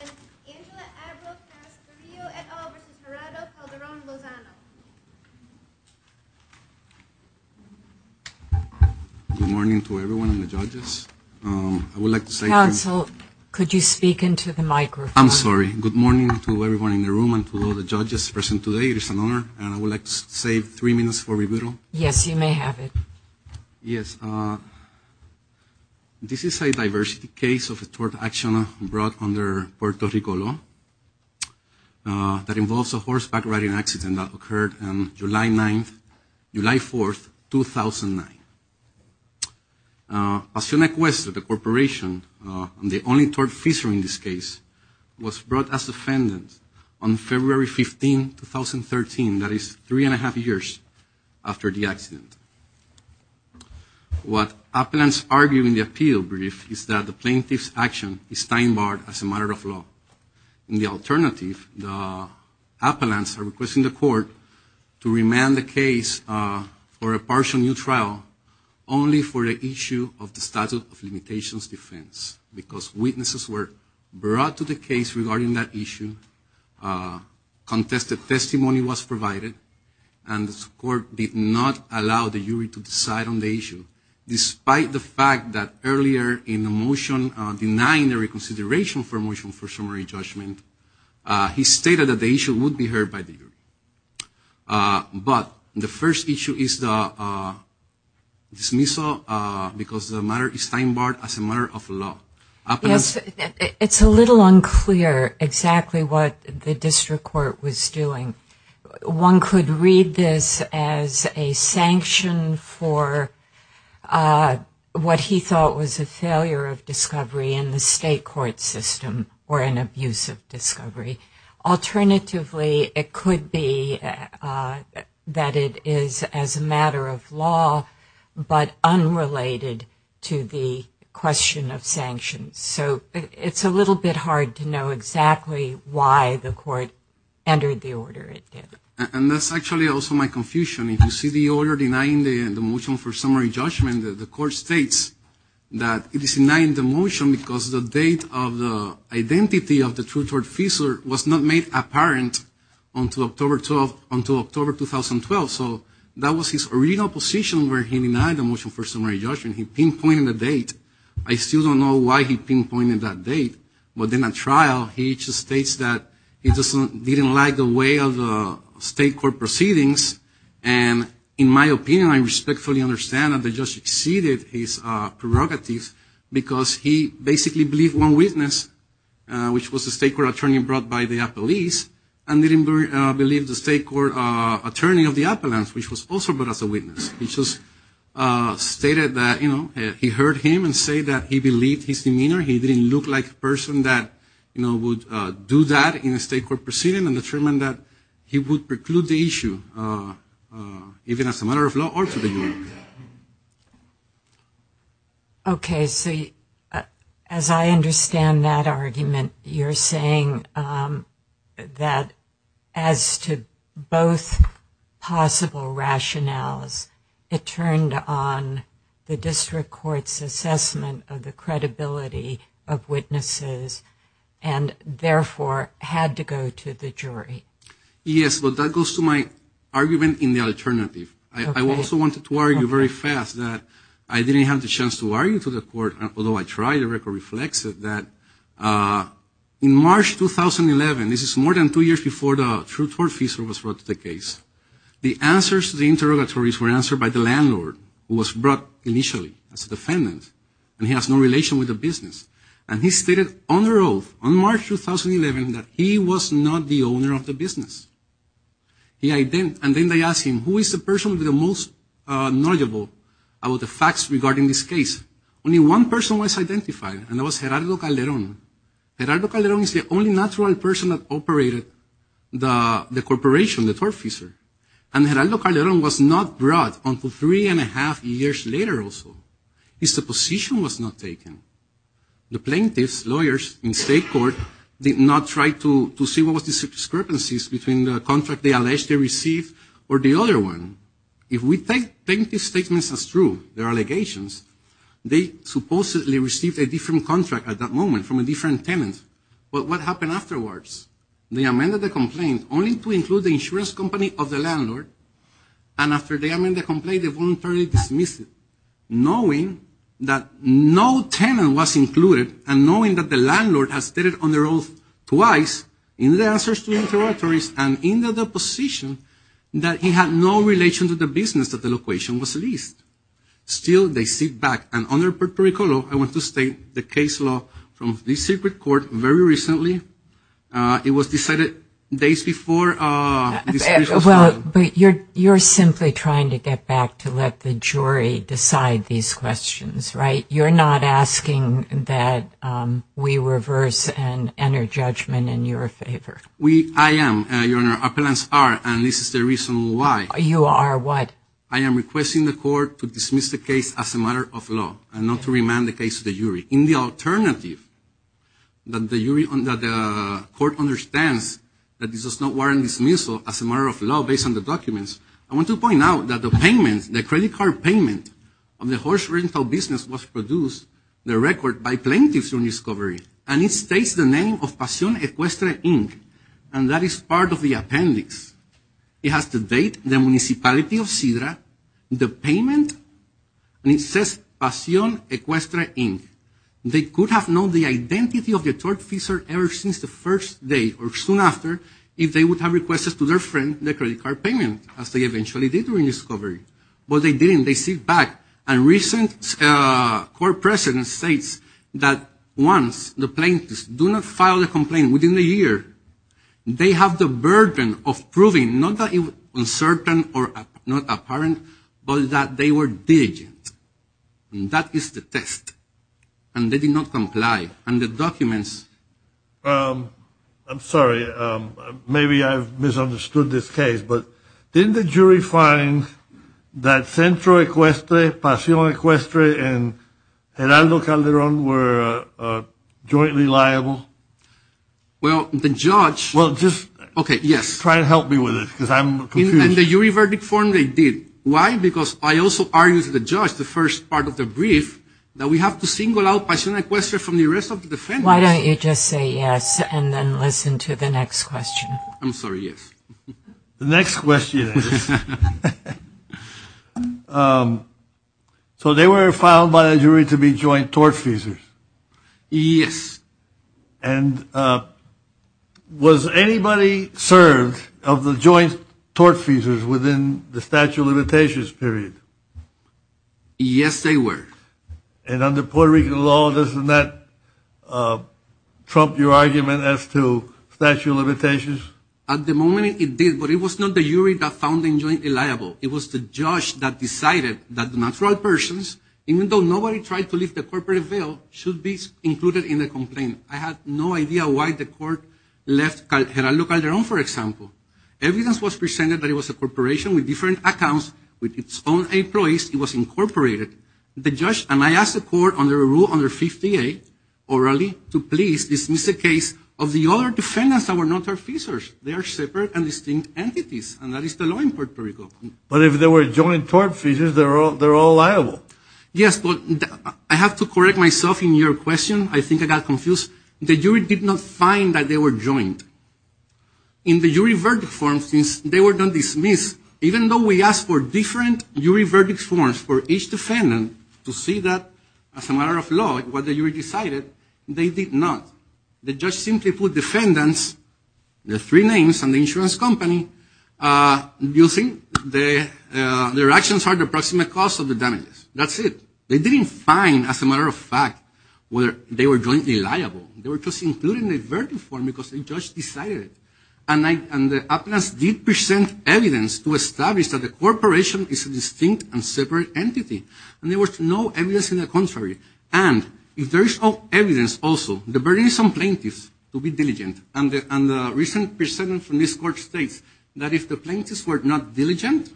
and Angela Abreu-Carrasquillo et al. v. Gerardo Calderon-Lozano. Good morning to everyone and the judges. I would like to say... Counsel, could you speak into the microphone? I'm sorry. Good morning to everyone in the room and to all the judges present today. It is an honor and I would like to save three minutes for rebuttal. Yes, you may have it. Yes, this is a diversity case of a tort action brought under Puerto Rico law that involves a horseback riding accident that occurred on July 9th... July 4th, 2009. Pasion Equestre, the corporation, the only tort officer in this case, was brought as a defendant on February 15, 2013. That is three and a half years after the accident. What appellants argue in the appeal brief is that the plaintiff's action is time barred as a matter of law. In the alternative, the appellants are requesting the court to remand the case for a partial new trial only for the issue of the statute of limitations defense because witnesses were brought to the case regarding that issue, contested testimony was provided, and the court did not allow the jury to decide on the issue. Despite the fact that earlier in the motion denying the reconsideration for motion for summary judgment, he stated that the issue would be heard by the jury. But the first issue is the dismissal because the matter is time barred as a matter of law. Yes, it's a little unclear exactly what the district court was doing. One could read this as a sanction for what he thought was a failure of discovery in the state court system or an abuse of discovery. Alternatively, it could be that it is as a matter of law but unrelated to the question of sanctions. So it's a little bit hard to know exactly why the court entered the order it did. And that's actually also my confusion. If you see the order denying the motion for summary judgment, the court states that it is denying the motion because the date of the identity of the true tort officer was not made apparent until October 2012. So that was his original position where he denied the motion for summary judgment. He pinpointed the date. I still don't know why he pinpointed that date. But in a trial, he just states that he didn't like the way of the state court proceedings. And in my opinion, I respectfully understand that the judge exceeded his prerogatives because he basically believed one witness, which was a state court attorney brought by the appellees, and didn't believe the state court attorney of the appellants, which was also brought as a witness. He just stated that, you know, he heard him and said that he believed his demeanor. He didn't look like a person that, you know, would do that in a state court proceeding and determined that he would preclude the issue even as a matter of law or to the jury. Okay, so as I understand that argument, you're saying that as to both possible rationales, it turned on the district court's assessment of the credibility of witnesses and therefore had to go to the jury. Yes, but that goes to my argument in the alternative. I also wanted to argue very fast that I didn't have the chance to argue to the court, although I tried, the record reflects it, that in March 2011, this is more than two years before the truth court feature was brought to the case, the answers to the interrogatories were answered by the landlord who was brought initially as a defendant and he has no relation with the business. And he stated on their oath on March 2011 that he was not the owner of the business. And then they asked him, who is the person who is the most knowledgeable about the facts regarding this case? Only one person was identified, and that was Gerardo Calderon. Gerardo Calderon is the only natural person that operated the corporation, the tort feature. And Gerardo Calderon was not brought until three and a half years later or so. His position was not taken. The plaintiffs, lawyers in state court, did not try to see what was the discrepancies between the contract they alleged they received or the other one. If we take plaintiff's statements as true, their allegations, they supposedly received a different contract at that moment from a different tenant. But what happened afterwards? They amended the complaint only to include the insurance company of the landlord, and after they amended the complaint, they voluntarily dismissed it, knowing that no tenant was included and knowing that the landlord has stated on their oath twice in the answers to the interrogatories and in the deposition that he had no relation to the business that the location was leased. Still, they sit back. And under Puerto Rico law, I want to state the case law from the secret court very recently. It was decided days before. But you're simply trying to get back to let the jury decide these questions, right? You're not asking that we reverse and enter judgment in your favor. I am, Your Honor. Appellants are, and this is the reason why. You are what? I am requesting the court to dismiss the case as a matter of law and not to remand the case to the jury. In the alternative, the court understands that this is not warranted dismissal as a matter of law based on the documents. I want to point out that the payment, the credit card payment, of the horse rental business was produced, the record, by plaintiffs on discovery. And it states the name of Pasión Equestre, Inc. And that is part of the appendix. It has the date, the municipality of Sidra, the payment, and it says Pasión Equestre, Inc. They could have known the identity of the tortfeasor ever since the first day or soon after if they would have requested to their friend the credit card payment, as they eventually did during discovery. But they didn't. They sit back. And recent court precedent states that once the plaintiffs do not file a complaint within a year, they have the burden of proving not that it was uncertain or not apparent, but that they were diligent. And that is the test. And they did not comply. And the documents. I'm sorry. Maybe I've misunderstood this case. But didn't the jury find that Centro Equestre, Pasión Equestre, and Geraldo Calderón were jointly liable? Well, the judge. Well, just try to help me with this because I'm confused. In the jury verdict form, they did. Why? Because I also argued to the judge, the first part of the brief, that we have to single out Pasión Equestre from the rest of the defendants. Why don't you just say yes and then listen to the next question? I'm sorry. Yes. The next question is, so they were found by the jury to be joint tortfeasors? Yes. And was anybody served of the joint tortfeasors within the statute of limitations period? Yes, they were. And under Puerto Rican law, doesn't that trump your argument as to statute of limitations? At the moment, it did. But it was not the jury that found them jointly liable. It was the judge that decided that the natural persons, even though nobody tried to lift the corporate veil, should be included in the complaint. I have no idea why the court left Gerardo Calderón, for example. Evidence was presented that it was a corporation with different accounts. With its own employees, it was incorporated. The judge and I asked the court under Rule No. 58, orally, to please dismiss the case of the other defendants that were not tortfeasors. They are separate and distinct entities, and that is the law in Puerto Rico. But if they were joint tortfeasors, they're all liable. Yes, but I have to correct myself in your question. I think I got confused. The jury did not find that they were joint. In the jury verdict form, since they were not dismissed, even though we asked for different jury verdict forms for each defendant to see that, as a matter of law, what the jury decided, they did not. The judge simply put defendants, the three names and the insurance company, using their actions for the approximate cost of the damages. That's it. They didn't find, as a matter of fact, whether they were jointly liable. They were just included in the verdict form because the judge decided it. And the appellants did present evidence to establish that the corporation is a distinct and separate entity. And there was no evidence in the contrary. And if there is no evidence also, the burden is on plaintiffs to be diligent. And the recent precedent from this court states that if the plaintiffs were not diligent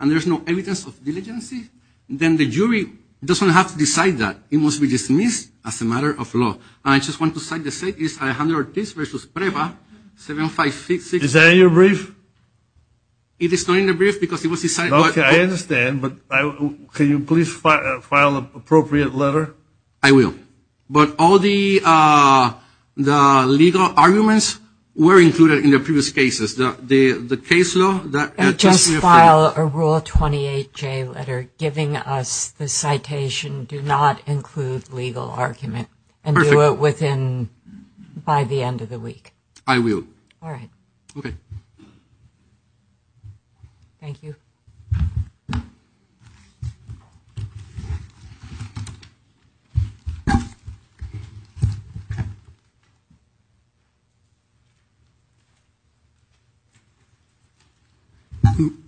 and there's no evidence of diligency, then the jury doesn't have to decide that. It must be dismissed as a matter of law. I just want to cite the state. It's Alejandro Ortiz v. Preva, 756. Is that in your brief? It is not in the brief because it was decided. Okay, I understand. But can you please file an appropriate letter? I will. All right. But all the legal arguments were included in the previous cases. The case law? Just file a Rule 28J letter giving us the citation, do not include legal argument. Perfect. And do it by the end of the week. I will. All right. Okay. Thank you.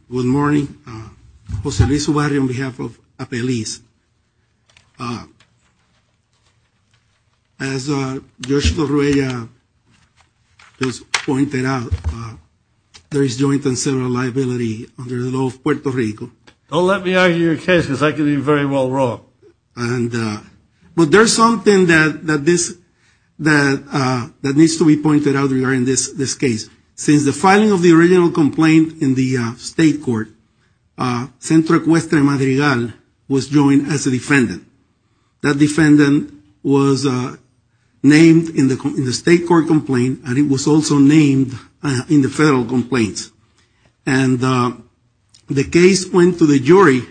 Good morning. Jose Luis Ubarria on behalf of APELIS. As Joshua just pointed out, there is joint and several liability under the law of Puerto Rico. Don't let me argue your case because I could be very well wrong. But there's something that needs to be pointed out regarding this case. Since the filing of the original complaint in the state court, Centro Ecuestre Madrigal was joined as a defendant. That defendant was named in the state court complaint, and it was also named in the federal complaints. And the case went to the jury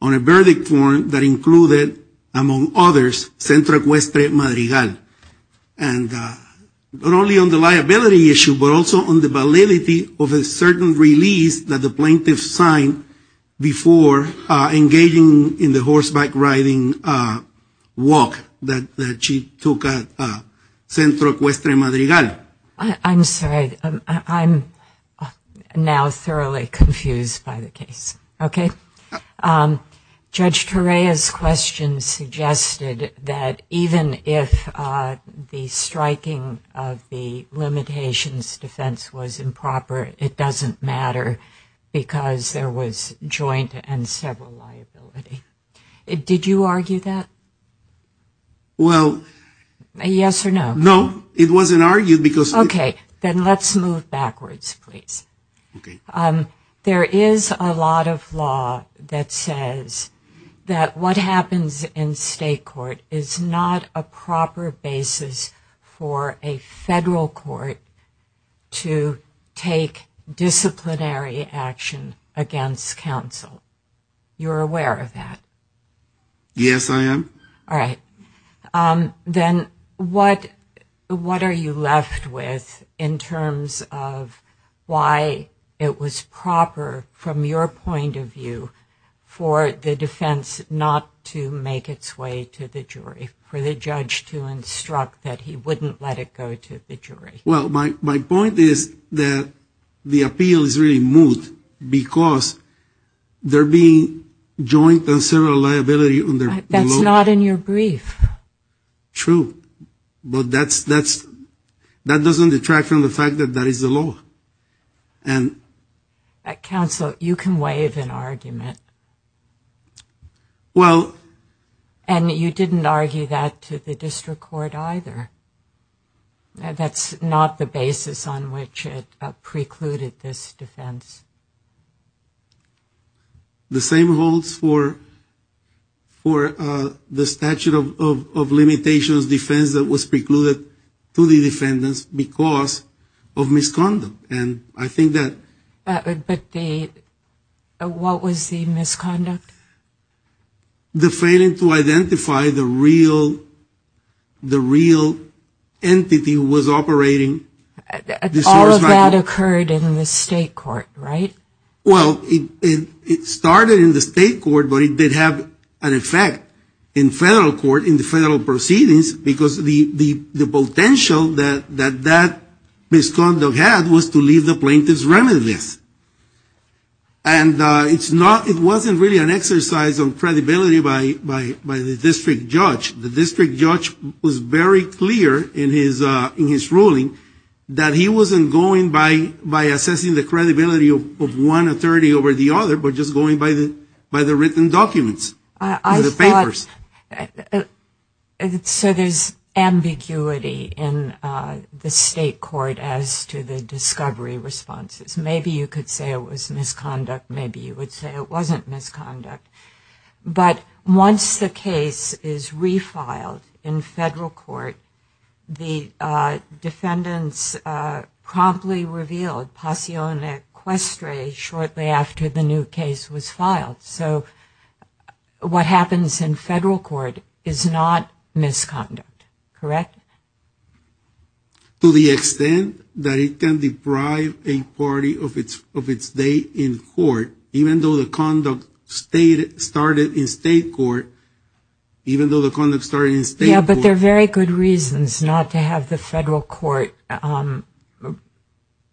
on a verdict form that included, among others, Centro Ecuestre Madrigal. And not only on the liability issue, but also on the validity of a certain release that the plaintiff signed before engaging in the horseback riding walk that she took at Centro Ecuestre Madrigal. I'm sorry. I'm now thoroughly confused by the case. Okay? Judge Torreya's question suggested that even if the striking of the limitations defense was improper, it doesn't matter because there was joint and several liability. Did you argue that? Well... Yes or no? No, it wasn't argued because... Okay, then let's move backwards, please. Okay. There is a lot of law that says that what happens in state court is not a proper basis for a federal court to take disciplinary action against counsel. You're aware of that? Yes, I am. All right. Then what are you left with in terms of why it was proper, from your point of view, for the defense not to make its way to the jury, for the judge to instruct that he wouldn't let it go to the jury? Well, my point is that the appeal is really moot because there being joint and several liability under the law... It's not in your brief. True, but that doesn't detract from the fact that that is the law. Counsel, you can waive an argument. Well... And you didn't argue that to the district court either. That's not the basis on which it precluded this defense. The same holds for the statute of limitations defense that was precluded to the defendants because of misconduct. And I think that... But what was the misconduct? The failing to identify the real entity who was operating... All of that occurred in the state court, right? Well, it started in the state court, but it did have an effect in federal court, in the federal proceedings, because the potential that that misconduct had was to leave the plaintiff's remanence. And it wasn't really an exercise on credibility by the district judge. The district judge was very clear in his ruling that he wasn't going by assessing the credibility of one authority over the other, but just going by the written documents and the papers. So there's ambiguity in the state court as to the discovery responses. Maybe you could say it was misconduct. Maybe you would say it wasn't misconduct. But once the case is refiled in federal court, the defendants promptly revealed passione questre shortly after the new case was filed. So what happens in federal court is not misconduct, correct? To the extent that it can deprive a party of its day in court, even though the conduct started in state court... Yeah, but there are very good reasons not to have the federal court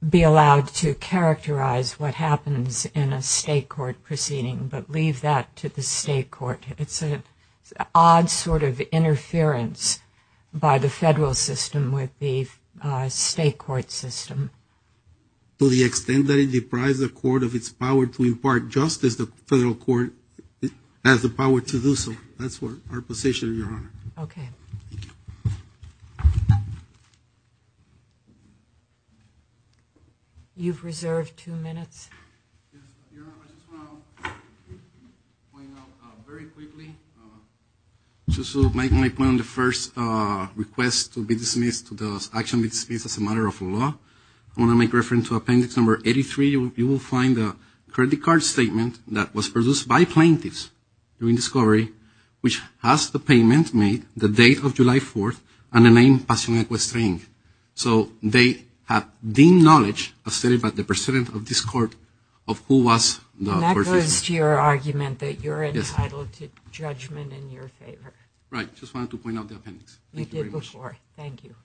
be allowed to characterize what happens in a state court proceeding, but leave that to the state court. It's an odd sort of interference by the federal system with the state court system. To the extent that it deprives the court of its power to impart justice, the federal court has the power to do so. That's our position, Your Honor. Okay. You've reserved two minutes. Your Honor, I just want to point out very quickly, just to make my point on the first request to be dismissed, to the action be dismissed as a matter of law, I want to make reference to appendix number 83. You will find a credit card statement that was produced by plaintiffs during discovery, which has the payment made the date of July 4th and the name passione questre. So they have the knowledge of the precedent of this court of who was... And that goes to your argument that you're entitled to judgment in your favor. Right. I just wanted to point out the appendix. You did before. Thank you.